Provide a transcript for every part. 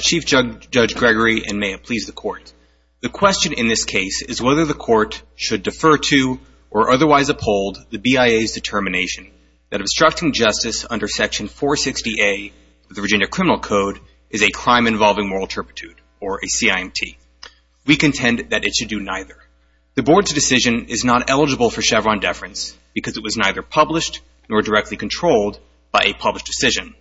Chief Judge Gregory and may it please the court. The question in this case is whether the court should defer to or otherwise uphold the BIA's determination that obstructing justice under section 460A of the Virginia Criminal Code is a crime involving moral turpitude or a CIMT. We contend that it should do neither. The board's decision is not eligible for either published nor directly controlled by a published decision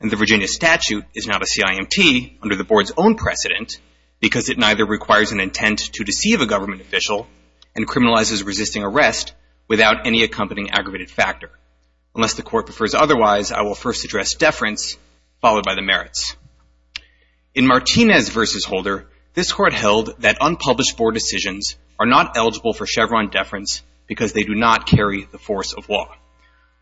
and the Virginia statute is not a CIMT under the board's own precedent because it neither requires an intent to deceive a government official and criminalizes resisting arrest without any accompanying aggravated factor. Unless the court prefers otherwise, I will first address deference followed by the merits. In Martinez v. Holder, this court held that unpublished board decisions are not eligible for Chevron deference because they do not carry the force of law.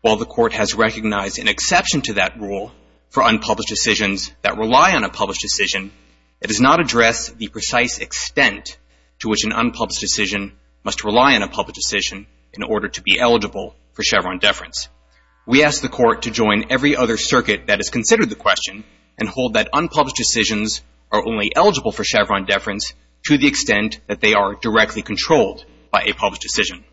While the court has recognized an exception to that rule for unpublished decisions that rely on a published decision, it does not address the precise extent to which an unpublished decision must rely on a published decision in order to be eligible for Chevron deference. We ask the court to join every other circuit that has considered the question and hold that unpublished decisions are only eligible for Chevron deference to the extent that they are directly controlled by a published decision.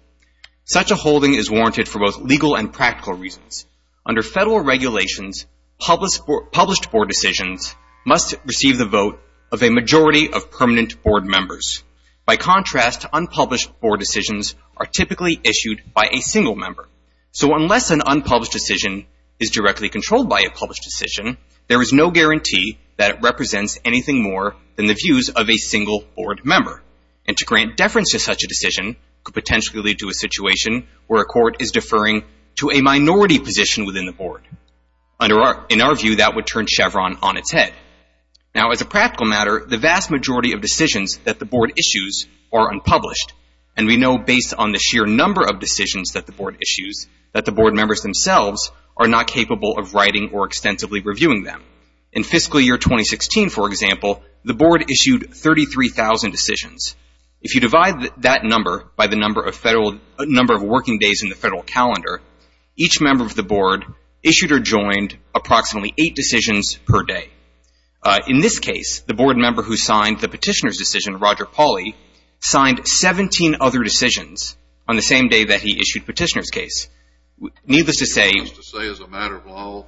Such a holding is warranted for both legal and practical reasons. Under federal regulations, published board decisions must receive the vote of a majority of permanent board members. By contrast, unpublished board decisions are typically issued by a single member. So unless an unpublished decision is directly controlled by a published decision, there is no guarantee that it represents anything more than the grant deference to such a decision could potentially lead to a situation where a court is deferring to a minority position within the board. In our view, that would turn Chevron on its head. Now as a practical matter, the vast majority of decisions that the board issues are unpublished, and we know based on the sheer number of decisions that the board issues that the board members themselves are not capable of writing or extensively reviewing them. In fiscal year 2016, for example, the board issued 33,000 decisions. If you divide that number by the number of working days in the federal calendar, each member of the board issued or joined approximately eight decisions per day. In this case, the board member who signed the petitioner's decision, Roger Pauly, signed 17 other decisions on the same day that he issued the petitioner's case. Needless to say, as a matter of law,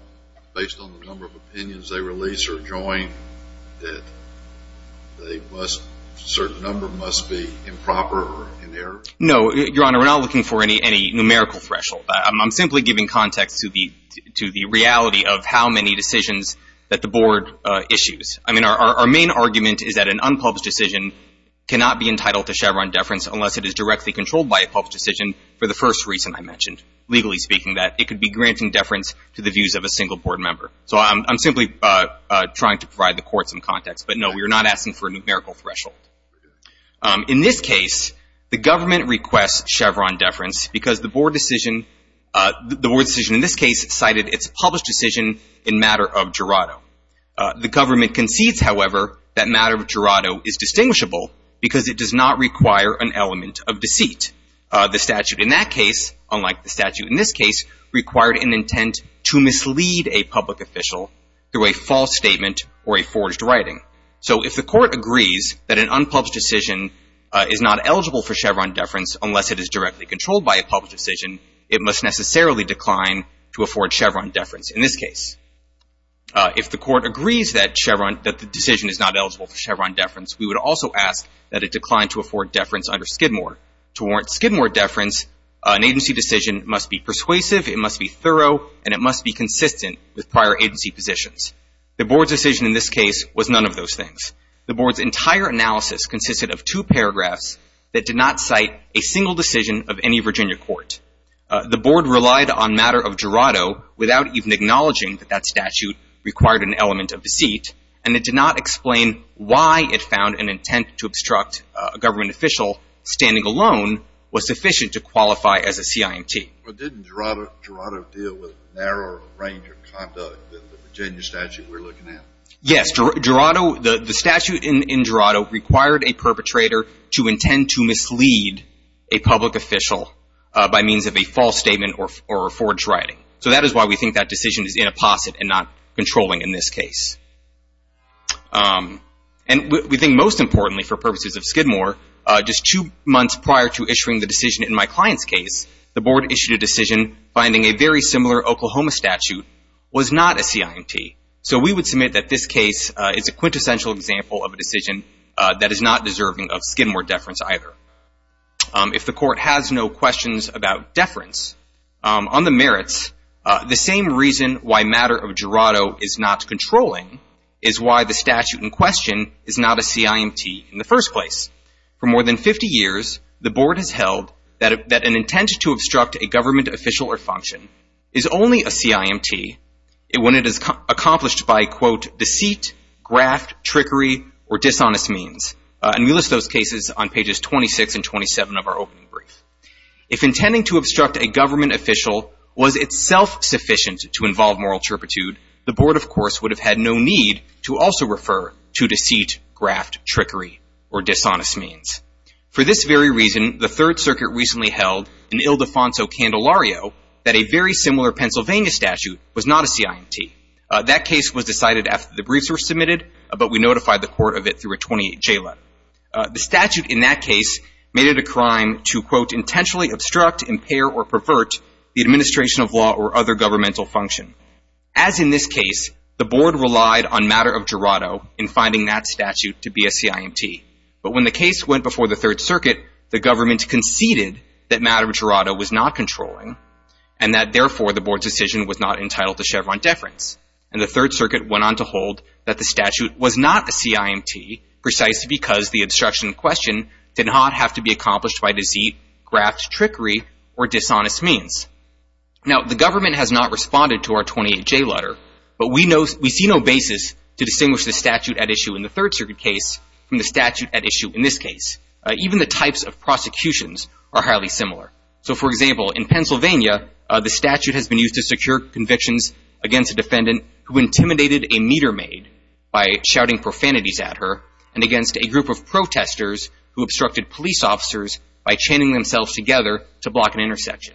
based on the number of opinions they release or join, that they must, a certain number must be improper or in error? No, Your Honor, we're not looking for any numerical threshold. I'm simply giving context to the reality of how many decisions that the board issues. I mean, our main argument is that an unpublished decision cannot be entitled to Chevron deference unless it is directly controlled by a published decision for the first reason I mentioned. Legally speaking, that it could be granting deference to the views of a single board member. So I'm simply trying to provide the court some context. But no, we are not asking for a numerical threshold. In this case, the government requests Chevron deference because the board decision in this case cited its published decision in matter of Gerardo. The government concedes, however, that matter of Gerardo is distinguishable because it does not require an element of deceit. The statute in that case, unlike the statute in this case, required an intent to a false statement or a forged writing. So if the court agrees that an unpublished decision is not eligible for Chevron deference unless it is directly controlled by a published decision, it must necessarily decline to afford Chevron deference in this case. If the court agrees that the decision is not eligible for Chevron deference, we would also ask that it decline to afford deference under Skidmore. To warrant Skidmore deference, an agency decision must be persuasive, it must be thorough, and it must be consistent with prior agency positions. The board's decision in this case was none of those things. The board's entire analysis consisted of two paragraphs that did not cite a single decision of any Virginia court. The board relied on matter of Gerardo without even acknowledging that that statute required an element of deceit, and it did not explain why it found an intent to obstruct a government official standing alone was sufficient to qualify as a CIMT. But didn't Gerardo deal with a narrower range of conduct than the Virginia statute we're looking at? Yes. Gerardo, the statute in Gerardo required a perpetrator to intend to mislead a public official by means of a false statement or a forged writing. So that is why we think that decision is in a posset and not controlling in this case. And we think most importantly for purposes of Skidmore, just two months prior to issuing the decision in my client's case, the board issued a decision finding a very similar Oklahoma statute was not a CIMT. So we would submit that this case is a quintessential example of a decision that is not deserving of Skidmore deference either. If the court has no questions about deference, on the merits, the same reason why matter of Gerardo is not controlling is why the statute in question is not a CIMT in the first place. For more than 50 years, the board has held that an intent to obstruct a government official or function is only a CIMT when it is accomplished by, quote, deceit, graft, trickery, or dishonest means. And we list those cases on pages 26 and 27 of our opening brief. If intending to obstruct a government official was itself sufficient to involve moral intrepidude, the board, of course, would have had no need to also refer to deceit, graft, trickery, or dishonest means. For this very reason, the Third Circuit recently held in Ildefonso Candelario that a very similar Pennsylvania statute was not a CIMT. That case was decided after the briefs were submitted, but we notified the court of it through a 28 JLUT. The statute in that case made it a crime to, quote, intentionally obstruct, impair, or pervert the administration of law or other governmental function. As in this case, the board relied on matter of Gerardo in finding that statute to be a CIMT. But when the case went before the Third Circuit, the government conceded that matter of Gerardo was not controlling and that, therefore, the board's decision was not entitled to Chevron deference. And the Third Circuit went on to hold that the statute was not a CIMT precisely because the obstruction in question did not have to be accomplished by deceit, graft, trickery, or dishonest means. Now, the government has not responded to our 28 JLUT, but we see no basis to distinguish the statute at issue in the Third Circuit case from the statute at issue in this case. Even the types of prosecutions are highly similar. So, for example, in Pennsylvania, the statute has been used to secure convictions against a defendant who intimidated a meter maid by shouting profanities at her and against a group of protesters who obstructed police officers by chaining themselves together to block an intersection.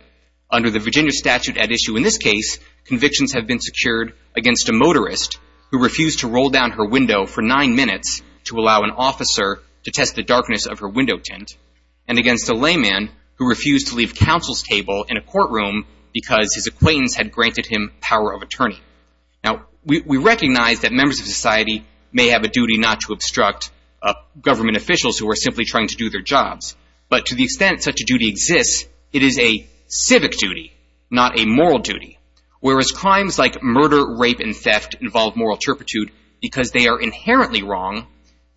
Under the Virginia statute at issue in this case, convictions have been secured against a motorist who refused to roll down her window for nine minutes to allow an officer to test the darkness of her window tint and against a layman who refused to leave counsel's table in a courtroom because his acquaintance had granted him power of attorney. Now, we recognize that members of society may have a duty not to obstruct government officials who are simply trying to do their jobs, but to the extent such a duty exists, it is a civic duty, not a moral duty. Whereas crimes like murder, rape, and theft involve moral turpitude because they are inherently wrong,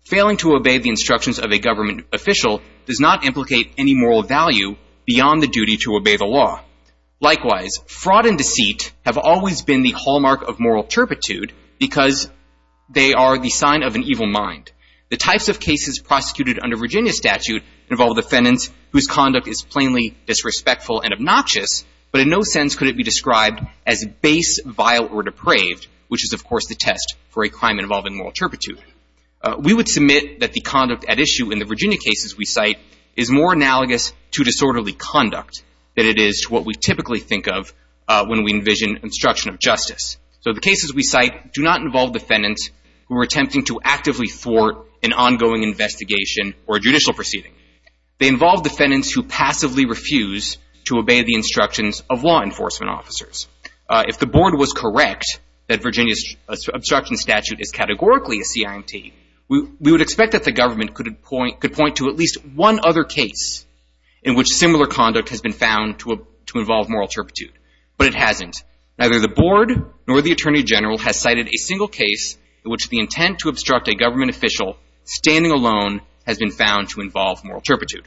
failing to obey the instructions of a government official does not implicate any moral value beyond the duty to obey the law. Likewise, fraud and deceit have always been the hallmark of moral turpitude because they are the sign of an evil mind. The types of cases prosecuted under Virginia statute involve defendants whose conduct is plainly disrespectful and obnoxious, but in no sense could it be described as base, vile, or depraved, which is, of course, the test for a crime involving moral turpitude. We would submit that the conduct at issue in the Virginia cases we cite is more analogous to disorderly conduct than it is to what we typically think of when we envision instruction of justice. So the cases we cite do not involve defendants who are attempting to actively thwart an ongoing investigation or judicial proceeding. They involve defendants who passively refuse to obey the instructions of law enforcement officers. If the board was correct that Virginia's obstruction statute is categorically a CIMT, we would expect that the government could point to at least one other case in which similar conduct has been found to involve moral turpitude, but it hasn't. Neither the board nor the attorney general has cited a single case in which the intent to obstruct a government official standing alone has been found to involve moral turpitude.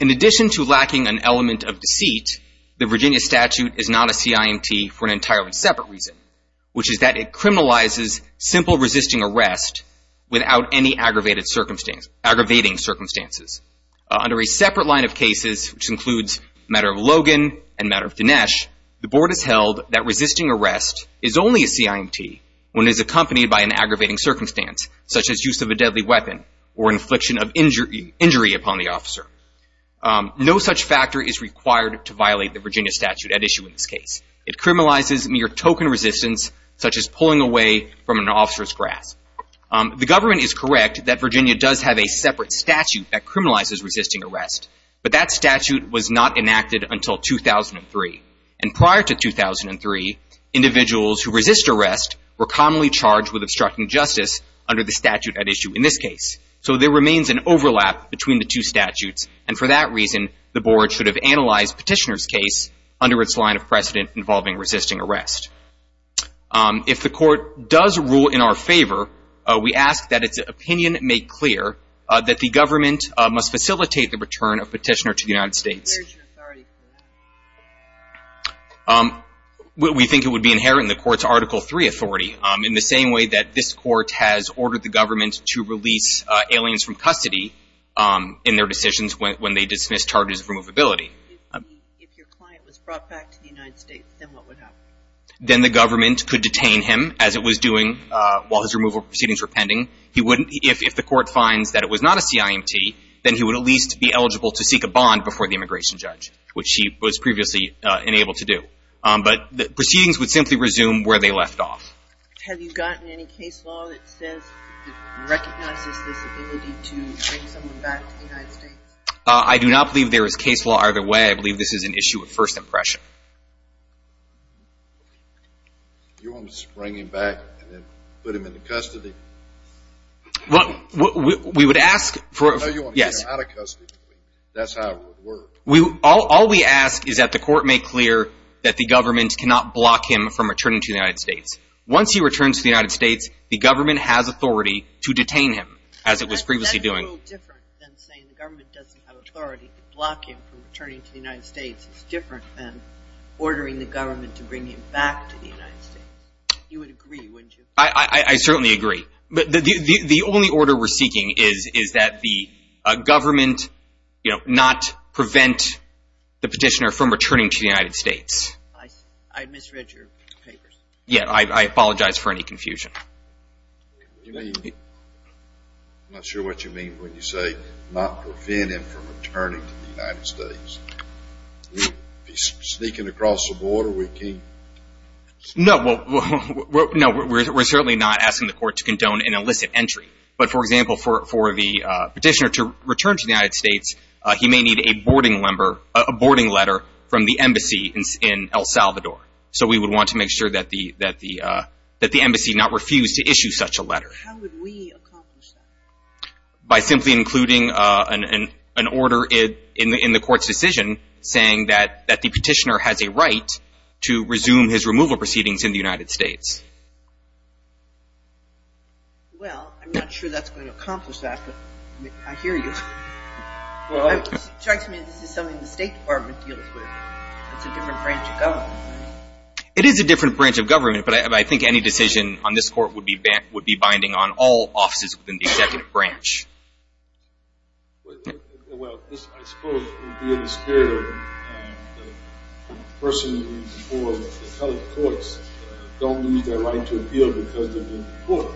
In addition to lacking an element of deceit, the Virginia statute is not a CIMT for an entirely separate reason, which is that it criminalizes simple resisting arrest without any aggravating circumstances. Under a separate line of cases, which includes the matter of Logan and the matter of Dinesh, the board has held that resisting arrest is only a CIMT when it is accompanied by an aggravating circumstance, such as use of a deadly weapon or infliction of injury upon the officer. No such factor is required to violate the Virginia statute at issue in this case. It criminalizes mere token resistance, such as pulling away from an officer's grasp. The government is correct that Virginia does have a separate statute that criminalizes resisting arrest, but that statute was not enacted until 2003. And prior to 2003, individuals who resist arrest were commonly charged with obstructing justice under the statute at issue in this case. So there remains an overlap between the two statutes, and for that reason, the board should have analyzed Petitioner's case under its line of precedent involving resisting arrest. If the court does rule in our favor, we ask that its opinion make clear that the government must facilitate the return of Petitioner to the United States. Where is your authority for that? We think it would be inherent in the court's Article III authority, in the same way that this court has ordered the government to release aliens from custody in their decisions when they dismiss charges of removability. If your client was brought back to the United States, then what would happen? Then the government could detain him, as it was doing while his removal proceedings were pending. If the court finds that it was not a CIMT, then he would at least be eligible to seek a bond before the immigration judge, which he was previously unable to do. But the proceedings would simply resume where they left off. Have you gotten any case law that says it recognizes this ability to bring someone back to the United States? I do not believe there is case law either way. I believe this is an issue of first impression. You want to bring him back and then put him into custody? We would ask for... No, you want to get him out of custody. That's how it would work. All we ask is that the court make clear that the government cannot block him from returning to the United States. Once he returns to the United States, the government has authority to detain him, as it was previously doing. It's a little different than saying the government doesn't have authority to block him from returning to the United States. It's different than ordering the government to bring him back to the United States. You would agree, wouldn't you? I certainly agree. But the only order we're seeking is that the government not prevent the petitioner from returning to the United States. I misread your papers. Yeah, I apologize for any confusion. I'm not sure what you mean when you say not prevent him from returning to the United States. If he's sneaking across the border, we can't... No, we're certainly not asking the court to condone an illicit entry. But for example, for the petitioner to return to the United States, he may need a boarding letter from the embassy in El Salvador. So we would want to make sure that the embassy not refuse to issue such a letter. How would we accomplish that? By simply including an order in the court's decision saying that the petitioner has a right to resume his removal proceedings in the United States. Well, I'm not sure that's going to accomplish that, but I hear you. It strikes me that this is something the State Department deals with. It's a different branch of government. It is a different branch of government, but I think any decision on this court would be binding on all offices within the executive branch. Well, I suppose it would be in the spirit of the person who's before the colored courts don't lose their right to appeal because they've been deported.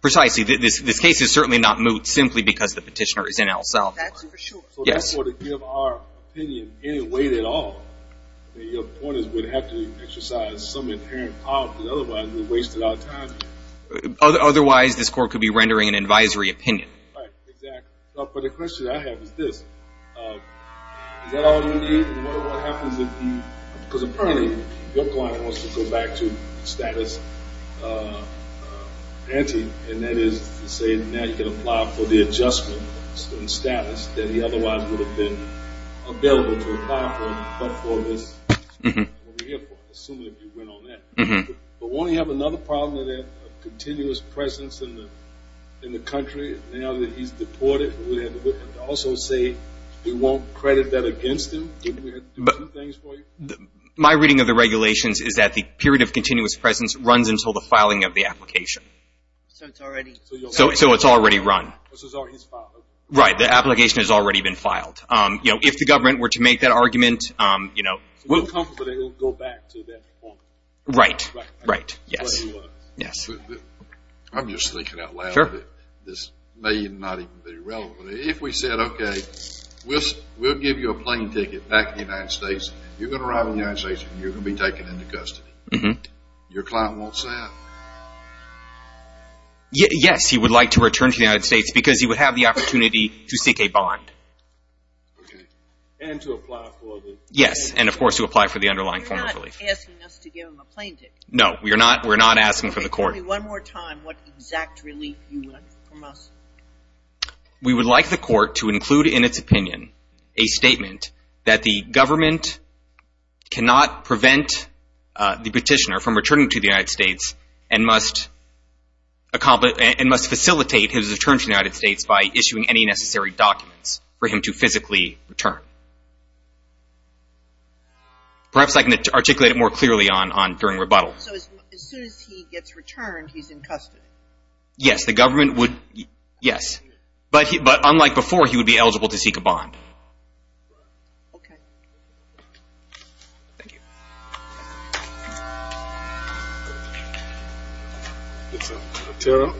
Precisely. This case is certainly not moot simply because the petitioner is in El Salvador. That's for sure. Yes. So therefore, to give our opinion in any way at all, the point is we'd have to exercise some inherent power, because otherwise we've wasted our time. Otherwise, this court could be rendering an advisory opinion. Right, exactly. But the question I have is this. Is that all you need? What happens if Because apparently, your client wants to go back to status ante, and that is to say now you can apply for the adjustment in status that he otherwise would have been available to apply for but for this, what we're here for, assuming that you went on that. But won't he have another problem with that continuous presence in the country now that he's deported? And to also say you won't credit that against him? My reading of the regulations is that the period of continuous presence runs until the filing of the application. So it's already run. So it's already filed. Right, the application has already been filed. If the government were to make that argument, you know So he'll go back to that point? Right, right, yes. I'm just thinking out loud that this may not even be relevant. If we said, okay, we'll give you a plane ticket back to the United States. You're going to arrive in the United States and you're going to be taken into custody. Your client wants that? Yes, he would like to return to the United States because he would have the opportunity to seek a bond. And to apply for the Yes, and of course to apply for the underlying form of relief. You're not asking us to give him a plane ticket. No, we're not asking for the court. One more time, what exact relief do you want from us? We would like the court to include in its opinion a statement that the government cannot prevent the petitioner from returning to the United States and must facilitate his return to the United States by issuing any necessary documents for him to physically return. Perhaps I can articulate it more clearly during rebuttal. So as soon as he gets returned, he's in custody? Yes, the government would, yes. But unlike before, he would be eligible to seek a bond. Okay. Thank you. Vanessa Otero.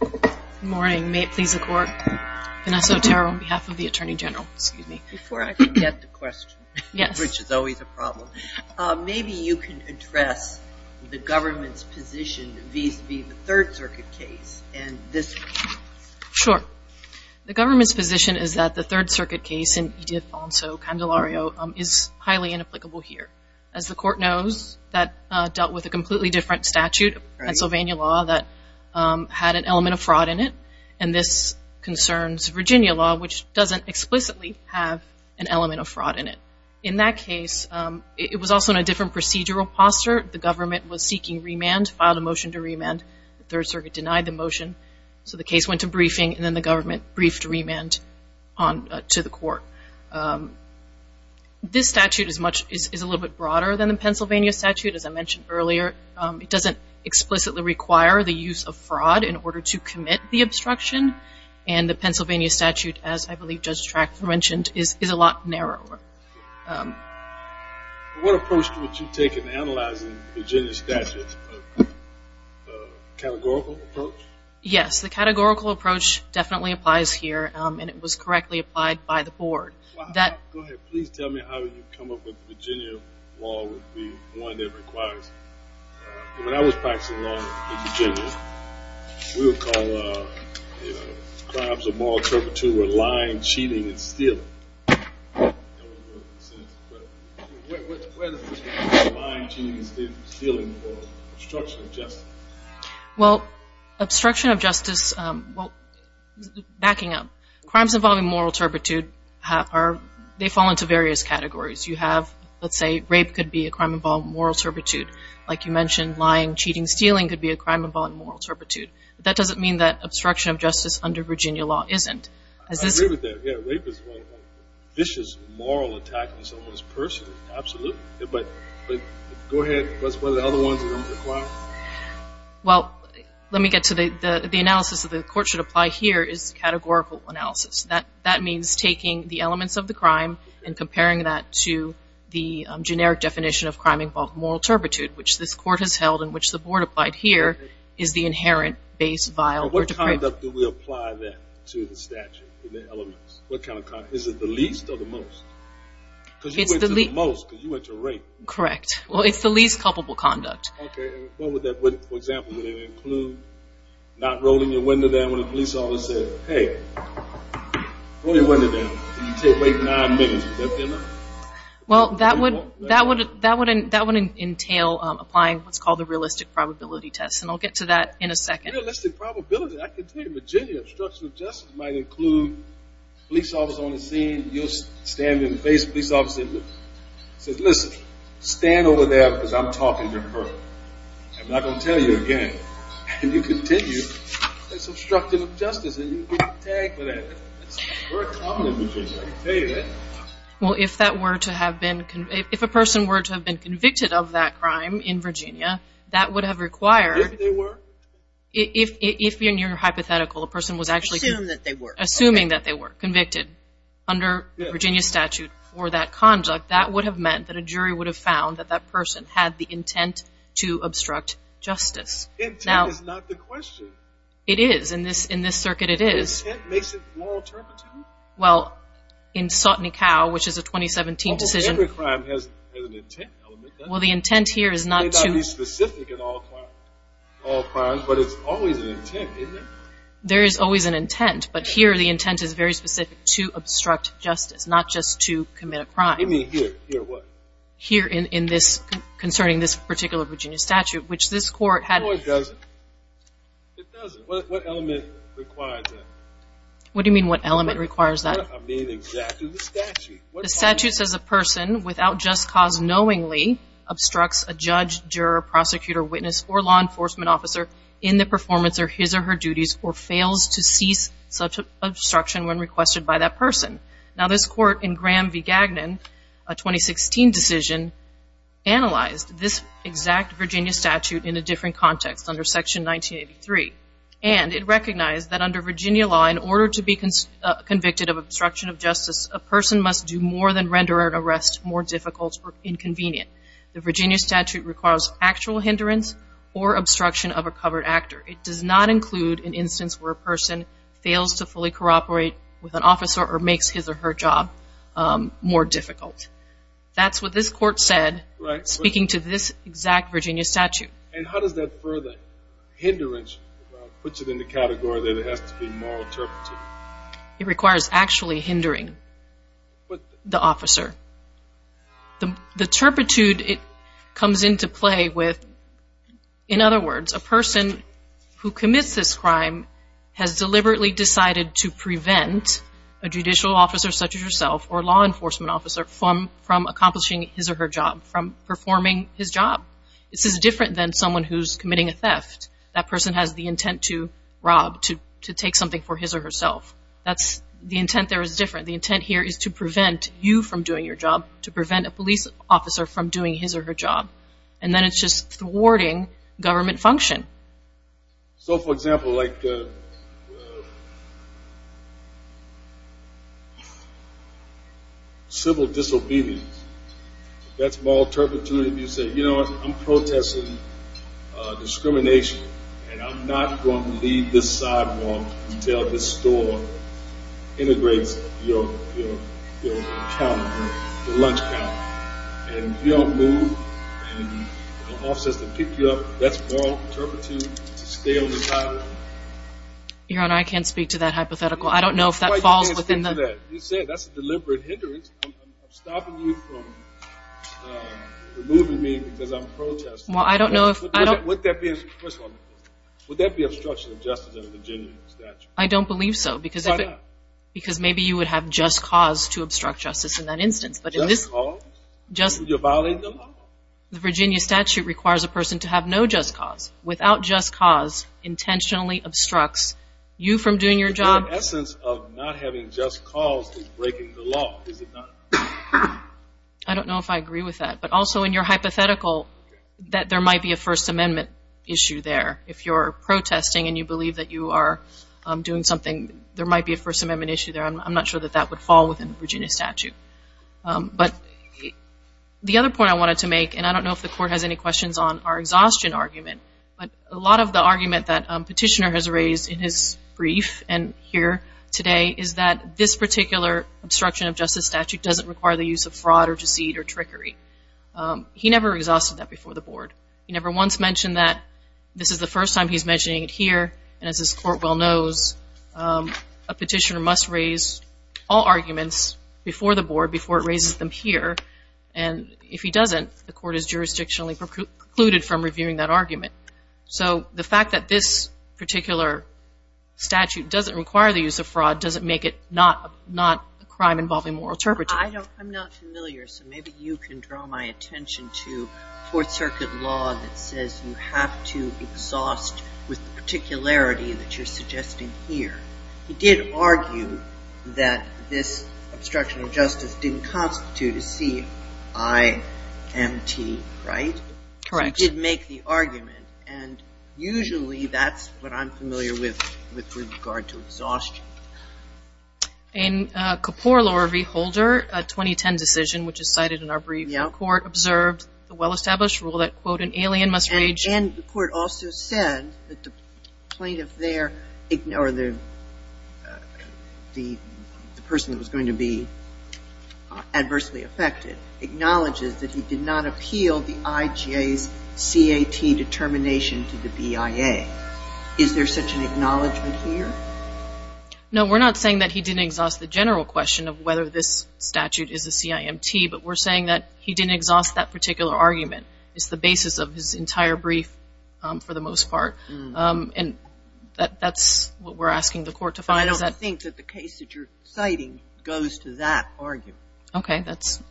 Good morning, may it please the court. Vanessa Otero on behalf of the Attorney General. Before I can get the question, which is always a problem, maybe you can address the government's position vis-a-vis the Third Circuit case and this one. Sure. The government's position is that the Third Circuit case in Edith Bonso Candelario is highly inapplicable here. As the court knows, that dealt with a completely different statute, Pennsylvania law, that had an element of fraud in it. And this concerns Virginia law, which doesn't explicitly have an element of fraud in it. In that case, it was also in a different procedural posture. The government was seeking remand, filed a motion to remand. The Third Circuit denied the motion. So the case went to briefing, and then the government briefed remand to the court. This statute is a little bit broader than the Pennsylvania statute, as I mentioned earlier. It doesn't explicitly require the use of fraud in order to commit the obstruction. And the Pennsylvania statute, as I believe Judge Traxler mentioned, is a lot narrower. What approach would you take in analyzing the Virginia statute? A categorical approach? Yes, the categorical approach definitely applies here, and it was correctly applied by the board. Go ahead. Please tell me how you come up with the Virginia law would be one that requires it. When I was practicing law in Virginia, we would call crimes of moral turpitude or lying, cheating, and stealing. What is lying, cheating, and stealing for obstruction of justice? Well, obstruction of justice, backing up, crimes involving moral turpitude, they fall into various categories. You have, let's say, rape could be a crime involving moral turpitude. Like you mentioned, lying, cheating, and stealing could be a crime involving moral turpitude. That doesn't mean that obstruction of justice under Virginia law isn't. I agree with that. Rape is a vicious moral attack on someone's person. Absolutely. But go ahead. What are the other ones that are required? Well, let me get to the analysis that the court should apply here is categorical analysis. That means taking the elements of the crime and comparing that to the generic definition of crime involving moral turpitude, which this court has held and which the board applied here, is the inherent base vial. What kind of conduct do we apply that to the statute and the elements? Is it the least or the most? It's the least. Because you went to the most because you went to rape. Correct. Well, it's the least culpable conduct. Okay. For example, would it include not rolling your window down when a police officer says, hey, roll your window down. You take like nine minutes. Would that be enough? Well, that would entail applying what's called the realistic probability test. And I'll get to that in a second. Realistic probability. I can tell you. Virginia obstruction of justice might include a police officer on the scene. You'll stand in the face of a police officer. He says, listen, stand over there because I'm talking to a person. I'm not going to tell you again. And you continue, that's obstruction of justice. And you get tagged for that. That's very common in Virginia. I can tell you that. Well, if that were to have been, if a person were to have been convicted of that crime in Virginia, that would have required. If they were. If in your hypothetical, a person was actually. Assuming that they were. Assuming that they were convicted under Virginia statute for that conduct, that would have meant that a jury would have found that that person had the intent to obstruct justice. Intent is not the question. It is. In this circuit, it is. Intent makes it more alternative? Well, in Sotny Cow, which is a 2017 decision. Well, every crime has an intent element. Well, the intent here is not to. It may not be specific in all crimes, but it's always an intent, isn't it? There is always an intent. But here, the intent is very specific to obstruct justice, not just to commit a crime. You mean here? Here what? Here in this, concerning this particular Virginia statute, which this court had. No, it doesn't. It doesn't. What element requires that? What do you mean, what element requires that? I mean exactly the statute. The statute says a person, without just cause knowingly, obstructs a judge, juror, prosecutor, witness, or law enforcement officer in the performance of his or her duties, or fails to cease such obstruction when requested by that person. Now, this court in Graham v. Gagnon, a 2016 decision, analyzed this exact Virginia statute in a different context, under section 1983. And it recognized that under Virginia law, in order to be convicted of obstruction of justice, a person must do more than render an arrest more difficult or inconvenient. The Virginia statute requires actual hindrance or obstruction of a covered actor. It does not include an instance where a person fails to fully cooperate with an officer or makes his or her job more difficult. That's what this court said, speaking to this exact Virginia statute. And how does that further, hindrance, puts it in the category that it has to be more interpreted? It requires actually hindering the officer. The turpitude it comes into play with, in other words, a person who commits this crime has deliberately decided to prevent a judicial officer, such as yourself, or a law enforcement officer, from accomplishing his or her job, from performing his job. This is different than someone who's committing a theft. That person has the intent to rob, to take something for his or herself. That's, the intent there is different. The intent here is to prevent you from doing your job, to prevent a police officer from doing his or her job. And then it's just thwarting government function. So, for example, like civil disobedience, that's moral turpitude if you say, you know what, I'm protesting discrimination, and I'm not going to leave this sidewalk until this store integrates your calendar, your lunch calendar. And if you don't move, and an officer has to pick you up, that's moral turpitude to stay on the sidewalk. Your Honor, I can't speak to that hypothetical. I don't know if that falls within the... You said that's a deliberate hindrance. I'm stopping you from removing me because I'm protesting. Well, I don't know if... First of all, would that be obstruction of justice in a Virginia statute? I don't believe so. Why not? Because maybe you would have just cause to obstruct justice in that instance. Just cause? You're violating the law. The Virginia statute requires a person to have no just cause. Without just cause, intentionally obstructs you from doing your job. The very essence of not having just cause is breaking the law. I don't know if I agree with that. But also in your hypothetical, that there might be a First Amendment issue there. If you're protesting and you believe that you are doing something, there might be a First Amendment issue there. I'm not sure that that would fall within the Virginia statute. But the other point I wanted to make, and I don't know if the Court has any questions on our exhaustion argument, but a lot of the argument that Petitioner has raised in his brief and here today is that this particular obstruction of justice statute doesn't require the use of fraud or deceit or trickery. He never exhausted that before the Board. He never once mentioned that. This is the first time he's mentioning it here. And as this Court well knows, a Petitioner must raise all arguments before the Board, before it raises them here. And if he doesn't, the Court is jurisdictionally precluded from reviewing that argument. So the fact that this particular statute doesn't require the use of fraud doesn't make it not a crime involving moral turpitude. I'm not familiar, so maybe you can draw my attention to Fourth Circuit law that says you have to exhaust with particularity that you're suggesting here. He did argue that this obstruction of justice didn't constitute a CIMT, right? Correct. He did make the argument. And usually that's what I'm familiar with with regard to exhaustion. In Kapor, Laura V. Holder, a 2010 decision which is cited in our brief, the Court observed the well-established rule that, quote, an alien must raise... And the Court also said that the plaintiff there, or the person that was going to be adversely affected, acknowledges that he did not appeal the IJA's CAT determination to the BIA. Is there such an acknowledgement here? No, we're not saying that he didn't exhaust the general question of whether this statute is a CIMT, but we're saying that he didn't exhaust that particular argument. It's the basis of his entire brief, for the most part. And that's what we're asking the Court to find. I don't think that the case that you're citing goes to that argument. Okay, that's...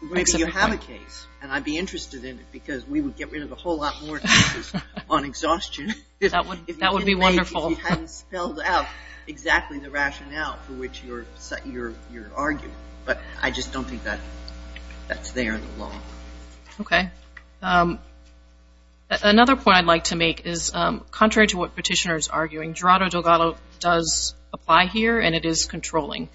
Maybe you have a case, and I'd be interested in it because we would get rid of a whole lot more cases on exhaustion. That would be wonderful. If you hadn't spelled out exactly the rationale for which you're arguing. But I just don't think that's there in the law. Okay. Another point I'd like to make is, contrary to what Petitioner is arguing, Gerardo Delgado does apply here, and it is controlling.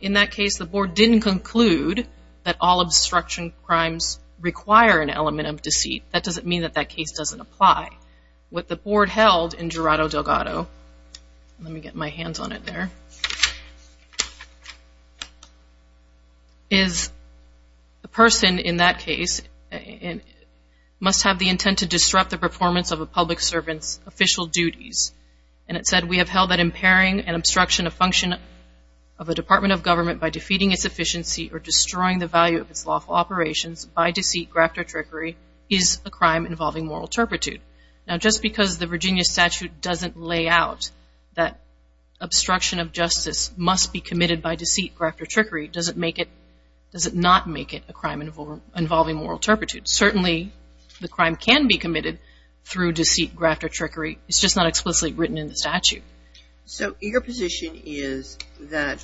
In that case, the Board didn't conclude that all obstruction crimes require an element of deceit. That doesn't mean that that case doesn't apply. What the Board held in Gerardo Delgado, let me get my hands on it there, is the person in that case must have the intent to disrupt the performance of a public servant's official duties. And it said, we have held that impairing and obstruction of function of a Department of Government by defeating its efficiency or destroying the value of its lawful operations by deceit, graft, or trickery is a crime involving moral turpitude. Now, just because the Virginia statute doesn't lay out that obstruction of justice must be committed by deceit, graft, or trickery, does it not make it a crime involving moral turpitude? Certainly, the crime can be committed through deceit, graft, or trickery. It's just not explicitly written in the statute. So, your position is that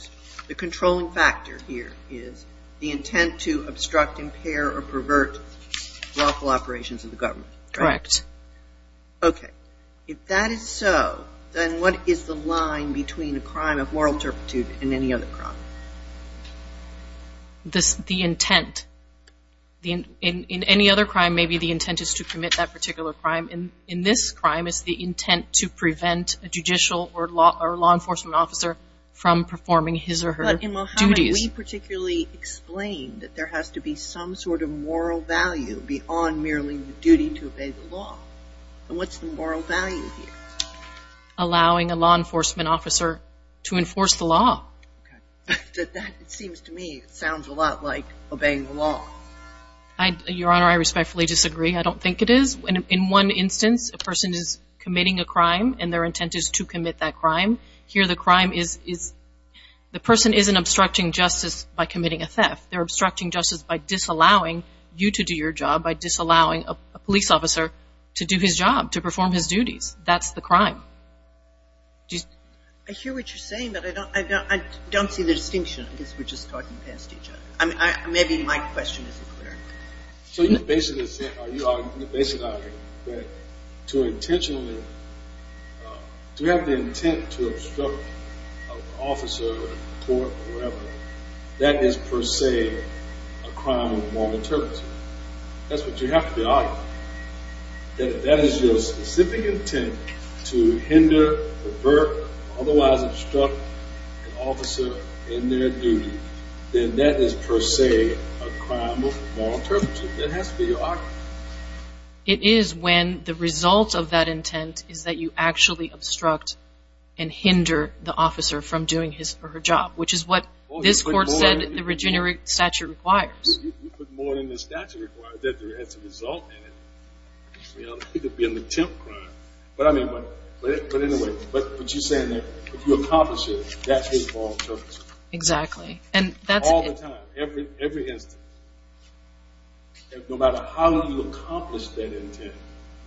the controlling factor here is the intent to obstruct, impair, or pervert lawful operations of the government. Correct. Okay. If that is so, then what is the line between a crime of moral turpitude and any other crime? The intent. In any other crime, maybe the intent is to commit that particular crime. In this crime, it's the intent to prevent a judicial or law enforcement officer from performing his or her duties. In Mohammed, we particularly explain that there has to be some sort of moral value beyond merely the duty to obey the law. What's the moral value here? Allowing a law enforcement officer to enforce the law. That, it seems to me, sounds a lot like obeying the law. Your Honor, I respectfully disagree. I don't think it is. In one instance, a person is committing a crime, and their intent is to commit that crime. Here, the crime is, the person isn't obstructing justice by committing a theft. They're obstructing justice by disallowing you to do your job, by disallowing a police officer to do his job, to perform his duties. That's the crime. I hear what you're saying, but I don't see the distinction. I guess we're just talking past each other. Maybe my question isn't clear. So your basic argument is that to intentionally, to have the intent to obstruct an officer in court or whatever, that is per se a crime of moral turpitude. That's what you have to be arguing. That if that is your specific intent to hinder, pervert, or otherwise obstruct an officer in their duty, then that is per se a crime of moral turpitude. That has to be your argument. It is when the result of that intent is that you actually obstruct and hinder the officer from doing his or her job, which is what this Court said the Regenerate Statute requires. You put more than the statute requires. It has a result in it. It could be an attempt crime. But anyway, what you're saying is that if you accomplish it, that is moral turpitude. Exactly. All the time. Every instance. No matter how you accomplish that intent,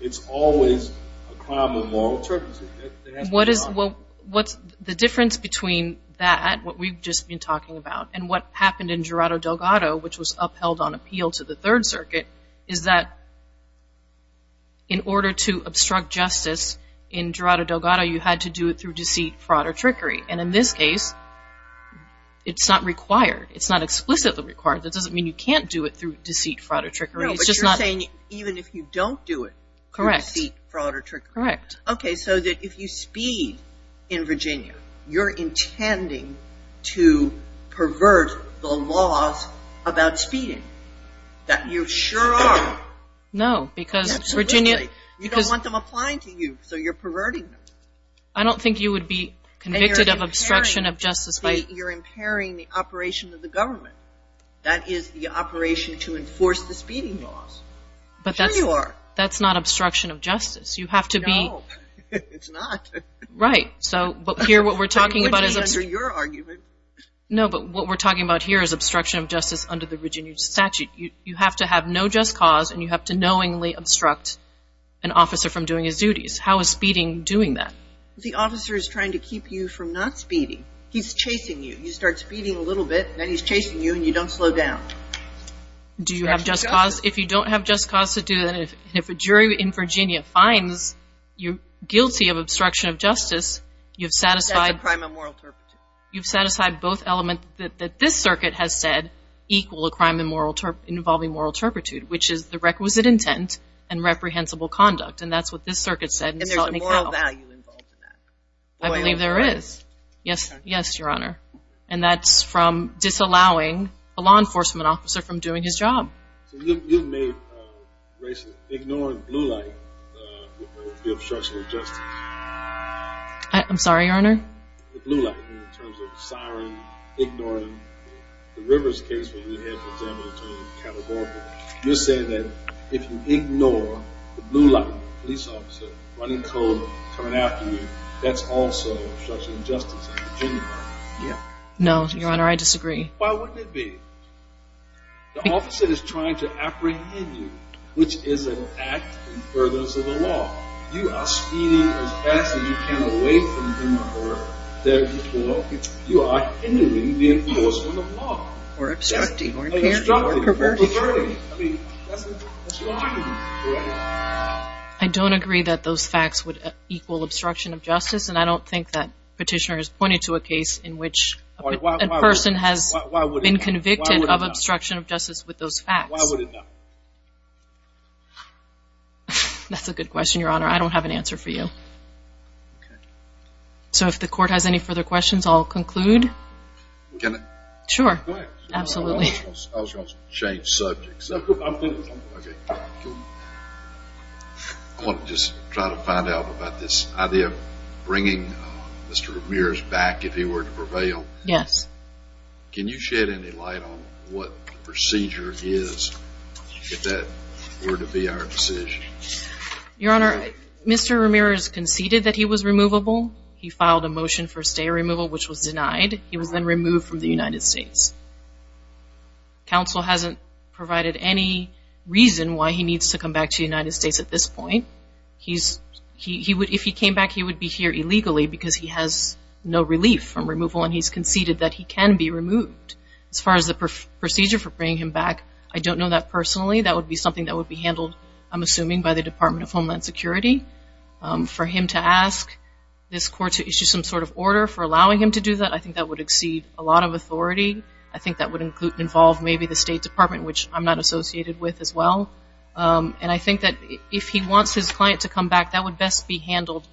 it's always a crime of moral turpitude. That has to be your argument. The difference between that, what we've just been talking about, and what happened in Gerardo Delgado, which was upheld on appeal to the Third Circuit, is that in order to obstruct justice in Gerardo Delgado, you had to do it through deceit, fraud, or trickery. And in this case, it's not required. It's not explicitly required. That doesn't mean you can't do it through deceit, fraud, or trickery. No, but you're saying even if you don't do it through deceit, fraud, or trickery. Correct. Okay, so that if you speed in Virginia, you're intending to pervert the laws about speeding, that you sure are. No, because Virginia... You don't want them applying to you, so you're perverting them. I don't think you would be convicted of obstruction of justice by... You're impairing the operation of the government. That is the operation to enforce the speeding laws. Sure you are. But that's not obstruction of justice. You have to be... No, it's not. Right, so, but here what we're talking about is... It's under your argument. No, but what we're talking about here is obstruction of justice under the Virginia statute. You have to have no just cause, and you have to knowingly obstruct an officer from doing his duties. How is speeding doing that? The officer is trying to keep you from not speeding. He's chasing you. You start speeding a little bit, and then he's chasing you, and you don't slow down. Do you have just cause? If you don't have just cause to do it, and if a jury in Virginia finds you guilty of obstruction of justice, you've satisfied... That's a crime of moral turpitude. You've satisfied both elements that this circuit has said equal a crime involving moral turpitude, which is the requisite intent and reprehensible conduct, and that's what this circuit said. And there's a moral value involved in that. I believe there is. Yes, yes, Your Honor. And that's from disallowing a law enforcement officer from doing his job. So you've made racist... Ignoring blue light with the obstruction of justice. I'm sorry, Your Honor? The blue light, in terms of sorry, ignoring. The Rivers case, when you had to examine it in California, you're saying that if you ignore the blue light, the police officer running cold, coming after you, that's also obstruction of justice in Virginia. No, Your Honor, I disagree. Why wouldn't it be? The officer is trying to apprehend you, which is an act in furtherance of the law. You are speeding as fast as you can away from him or her, therefore, you are hindering the enforcement of law. Or obstructing, or interfering. I mean, that's behind you, correct? I don't agree that those facts would equal obstruction of justice, and I don't think that Petitioner has pointed to a case in which a person has been convicted of obstruction of justice with those facts. Why would it not? That's a good question, Your Honor. I don't have an answer for you. Okay. So if the Court has any further questions, I'll conclude. Can I? Sure. Go ahead. Absolutely. I was going to change subjects. Okay. I want to just try to find out about this idea of bringing Mr. Ramirez back if he were to prevail. Yes. Can you shed any light on what the procedure is if that were to be our decision? Your Honor, Mr. Ramirez conceded that he was removable. He filed a motion for stay removal, which was denied. He was then removed from the United States. Counsel hasn't provided any reason why he needs to come back to the United States at this point. If he came back, he would be here illegally because he has no relief from removal, and he's conceded that he can be removed. As far as the procedure for bringing him back, I don't know that personally. That would be something that would be handled, I'm assuming, by the Department of Homeland Security. For him to ask this Court to issue some sort of order for allowing him to do that, I think that would exceed a lot of authority. I think that would involve maybe the State Department, which I'm not associated with as well. And I think that if he wants his client to come back, that would best be handled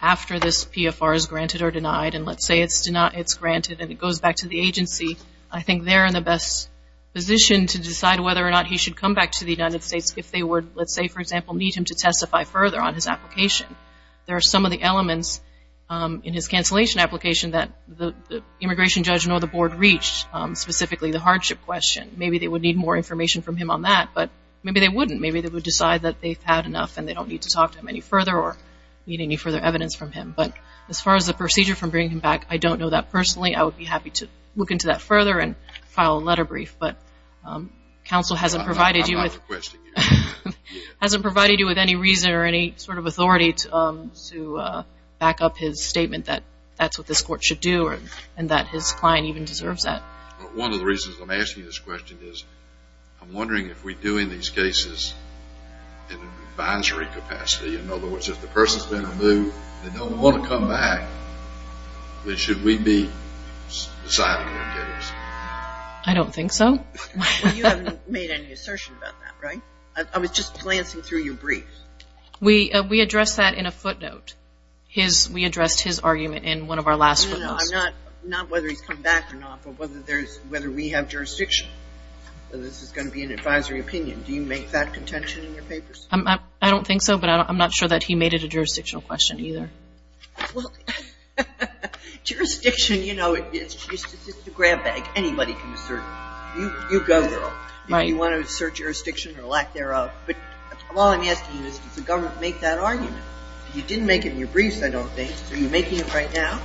after this PFR is granted or denied. And let's say it's granted and it goes back to the agency, I think they're in the best position to decide whether or not he should come back to the United States if they would, let's say, for example, need him to testify further on his application. There are some of the elements in his cancellation application that the immigration judge nor the board reached, specifically the hardship question. Maybe they would need more information from him on that, but maybe they wouldn't. Maybe they would decide that they've had enough and they don't need to talk to him any further or need any further evidence from him. But as far as the procedure for bringing him back, I don't know that personally. I would be happy to look into that further and file a letter brief. But counsel hasn't provided you with any reason or any sort of authority to back up his statement that that's what this court should do and that his client even deserves that. One of the reasons I'm asking this question is, I'm wondering if we do in these cases an advisory capacity. In other words, if the person's been removed and don't want to come back, should we be deciding their case? I don't think so. You haven't made any assertion about that, right? I was just glancing through your brief. We addressed that in a footnote. We addressed his argument in one of our last briefs. No, no, no. Not whether he's come back or not, but whether we have jurisdiction. This is going to be an advisory opinion. Do you make that contention in your papers? I don't think so, but I'm not sure that he made it a jurisdictional question either. Well, jurisdiction, you know, it's just a grab bag. Anybody can assert. You go, girl. Right. If you want to assert jurisdiction or lack thereof. All I'm asking is does the government make that argument? You didn't make it in your briefs, I don't think. Are you making it right now?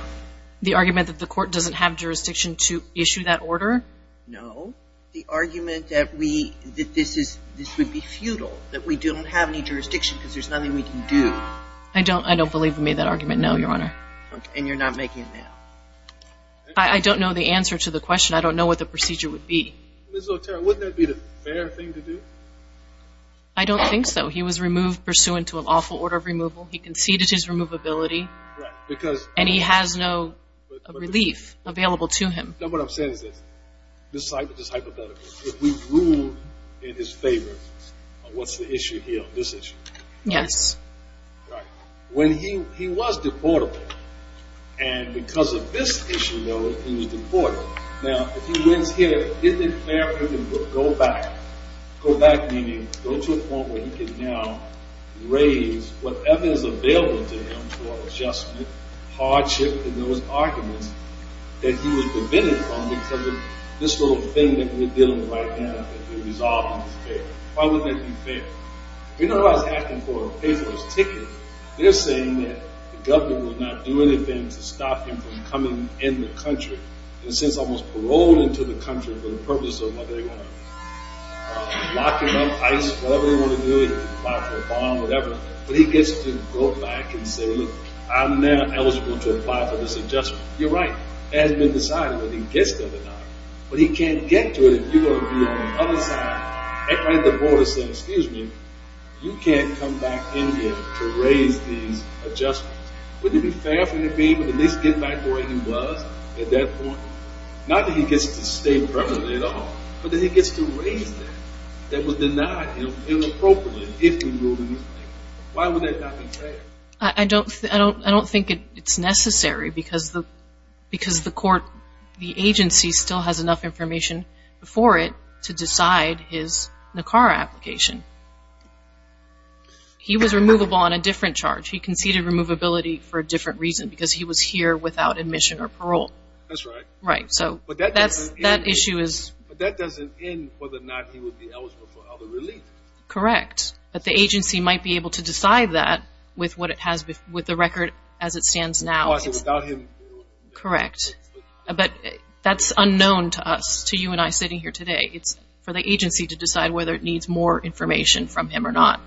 The argument that the court doesn't have jurisdiction to issue that order? No. The argument that this would be futile, that we don't have any jurisdiction because there's nothing we can do. I don't believe we made that argument, no, Your Honor. And you're not making it now? I don't know the answer to the question. I don't know what the procedure would be. Ms. Otero, wouldn't that be the fair thing to do? I don't think so. He was removed pursuant to an awful order of removal. He conceded his removability. Right, because And he has no relief available to him. No, what I'm saying is this. This is hypothetical. If we ruled in his favor, what's the issue here? This issue. Yes. Right. When he was deportable, and because of this issue, though, he was deportable. Now, if he wins here, isn't it fair for him to go back? Go back, meaning go to a point where he can now raise whatever is available to him for adjustment, hardship, and those arguments that he was prevented from because of this little thing that we're dealing with right now that we resolved in his favor. Why would that be fair? You know who I was asking for a pay-for-his-ticket? They're saying that the government will not do anything to stop him from coming in the country. And since I was paroled into the country for the purpose of whether they want to lock him up, ice, whatever they want to do, apply for a bond, whatever. But he gets to go back and say, look, I'm now eligible to apply for this adjustment. You're right. It hasn't been decided whether he gets to or not. But he can't get to it if you're going to be on the other side. Everybody at the border said, excuse me, you can't come back in here to raise these adjustments. Wouldn't it be fair for him to be able to at least get back to where he was at that point? Not that he gets to stay permanently at all, but that he gets to raise that. That was denied him inappropriately if he ruled in his favor. Why would that not be fair? I don't think it's necessary because the agency still has enough information before it to decide his NACAR application. He was removable on a different charge. He conceded removability for a different reason because he was here without admission or parole. That's right. Right. But that doesn't end whether or not he would be eligible for other relief. Correct. But the agency might be able to decide that with the record as it stands now. Correct. But that's unknown to us, to you and I sitting here today. It's for the agency to decide whether it needs more information from him or not.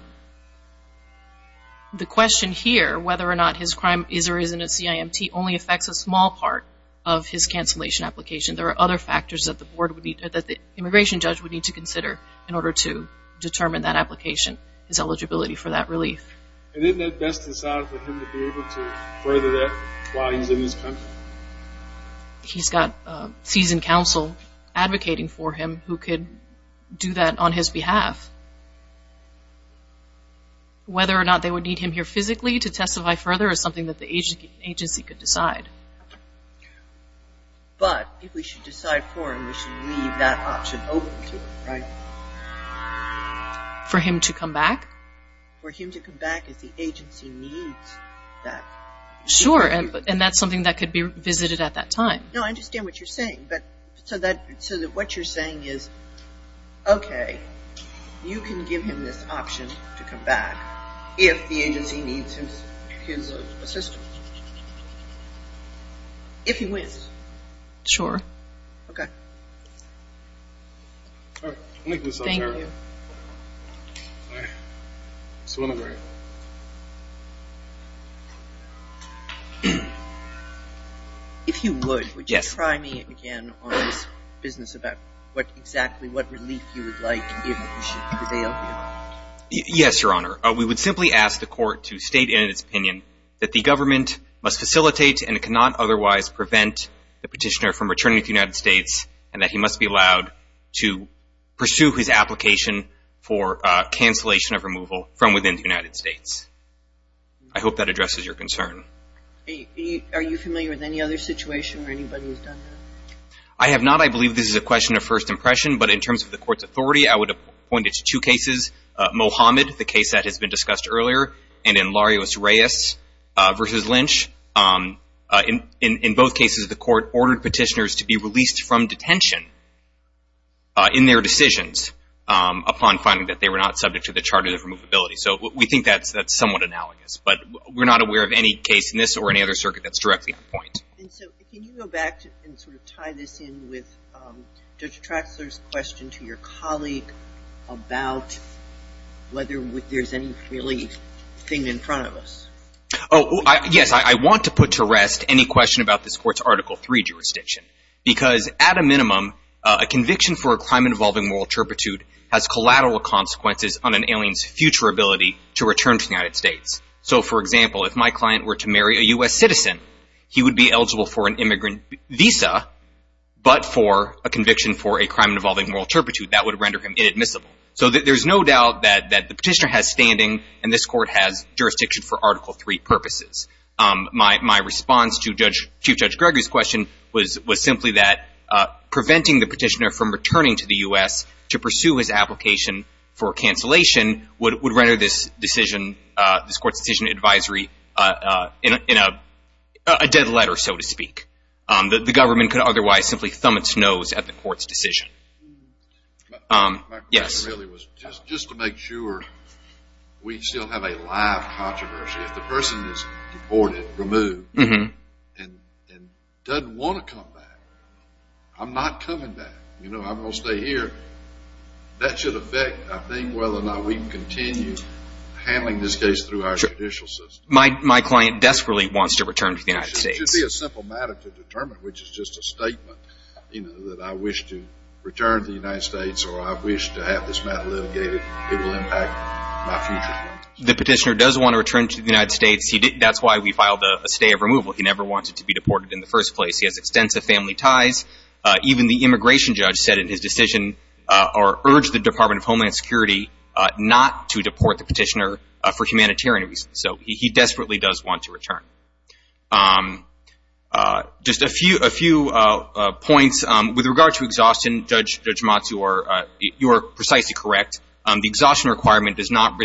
The question here, whether or not his crime is or isn't a CIMT, only affects a small part of his cancellation application. There are other factors that the immigration judge would need to consider in order to determine that application, his eligibility for that relief. And isn't it best to decide for him to be able to further that while he's in his country? He's got seasoned counsel advocating for him who could do that on his behalf. Whether or not they would need him here physically to testify further is something that the agency could decide. But if we should decide for him, we should leave that option open to him, right? For him to come back? For him to come back if the agency needs that. Sure, and that's something that could be visited at that time. No, I understand what you're saying. So what you're saying is, okay, you can give him this option to come back if the agency needs his assistance. If he wins. Sure. Okay. Thank you. Mr. Winograd. If you would, would you try me again on this business about exactly what relief you would like and what you should avail him? Yes, Your Honor. We would simply ask the court to state in its opinion that the government must facilitate and cannot otherwise prevent the petitioner from returning to the United States and that he must be allowed to pursue his application for cancellation of removal from within the United States. I hope that addresses your concern. Are you familiar with any other situation where anybody has done that? I have not. I believe this is a question of first impression. But in terms of the court's authority, I would point it to two cases. Mohamed, the case that has been discussed earlier, and in Larios-Reyes v. Lynch. In both cases, the court ordered petitioners to be released from detention in their decisions upon finding that they were not subject to the Charter of Removability. So we think that's somewhat analogous. But we're not aware of any case in this or any other circuit that's directly on point. And so can you go back and sort of tie this in with Judge Traxler's question to your colleague about whether there's any relief thing in front of us? Yes, I want to put to rest any question about this court's Article III jurisdiction. Because at a minimum, a conviction for a crime involving moral turpitude has collateral consequences on an alien's future ability to return to the United States. So for example, if my client were to marry a U.S. citizen, he would be eligible for an immigrant visa. But for a conviction for a crime involving moral turpitude, that would render him inadmissible. So there's no doubt that the petitioner has standing, and this court has jurisdiction for Article III purposes. My response to Chief Judge Gregory's question was simply that preventing the petitioner from returning to the U.S. to pursue his application for cancellation would render this decision, this court's decision advisory, in a dead letter, so to speak. The government could otherwise simply thumb its nose at the court's decision. My question really was just to make sure we still have a live controversy. If the person is deported, removed, and doesn't want to come back, I'm not coming back. You know, I'm going to stay here. That should affect, I think, whether or not we can continue handling this case through our judicial system. My client desperately wants to return to the United States. It should be a simple matter to determine, which is just a statement, you know, that I wish to return to the United States or I wish to have this matter litigated. It will impact my future. The petitioner does want to return to the United States. That's why we filed a stay of removal. He never wanted to be deported in the first place. He has extensive family ties. Even the immigration judge said in his decision or urged the Department of Homeland Security not to deport the petitioner for humanitarian reasons. So he desperately does want to return. Just a few points. With regard to exhaustion, Judge Matsu, you are precisely correct. The exhaustion requirement does not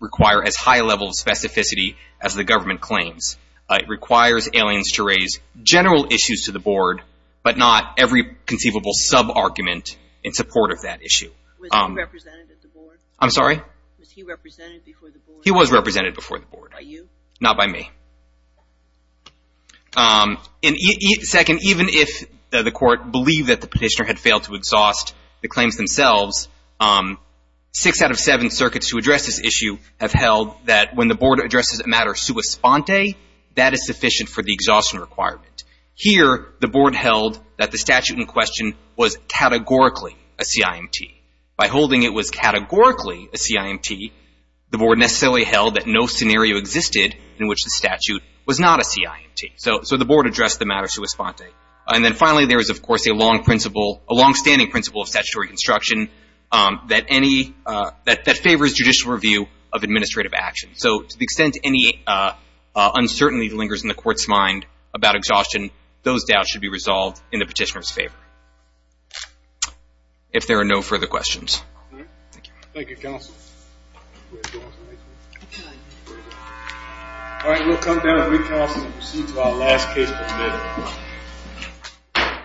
require as high a level of specificity as the government claims. It requires aliens to raise general issues to the board, but not every conceivable sub-argument in support of that issue. Was he represented at the board? I'm sorry? Was he represented before the board? He was represented before the board. By you? Not by me. Second, even if the court believed that the petitioner had failed to exhaust the claims themselves, six out of seven circuits who address this issue have held that when the board addresses a matter sua sponte, that is sufficient for the exhaustion requirement. Here, the board held that the statute in question was categorically a CIMT. By holding it was categorically a CIMT, the board necessarily held that no scenario existed in which the statute was not a CIMT. So the board addressed the matter sua sponte. And then finally, there is, of course, a long-standing principle of statutory construction that favors judicial review of administrative action. So to the extent any uncertainty lingers in the court's mind about exhaustion, those doubts should be resolved in the petitioner's favor. If there are no further questions. Thank you, counsel. All right, we'll come down and recast and proceed to our last case for today.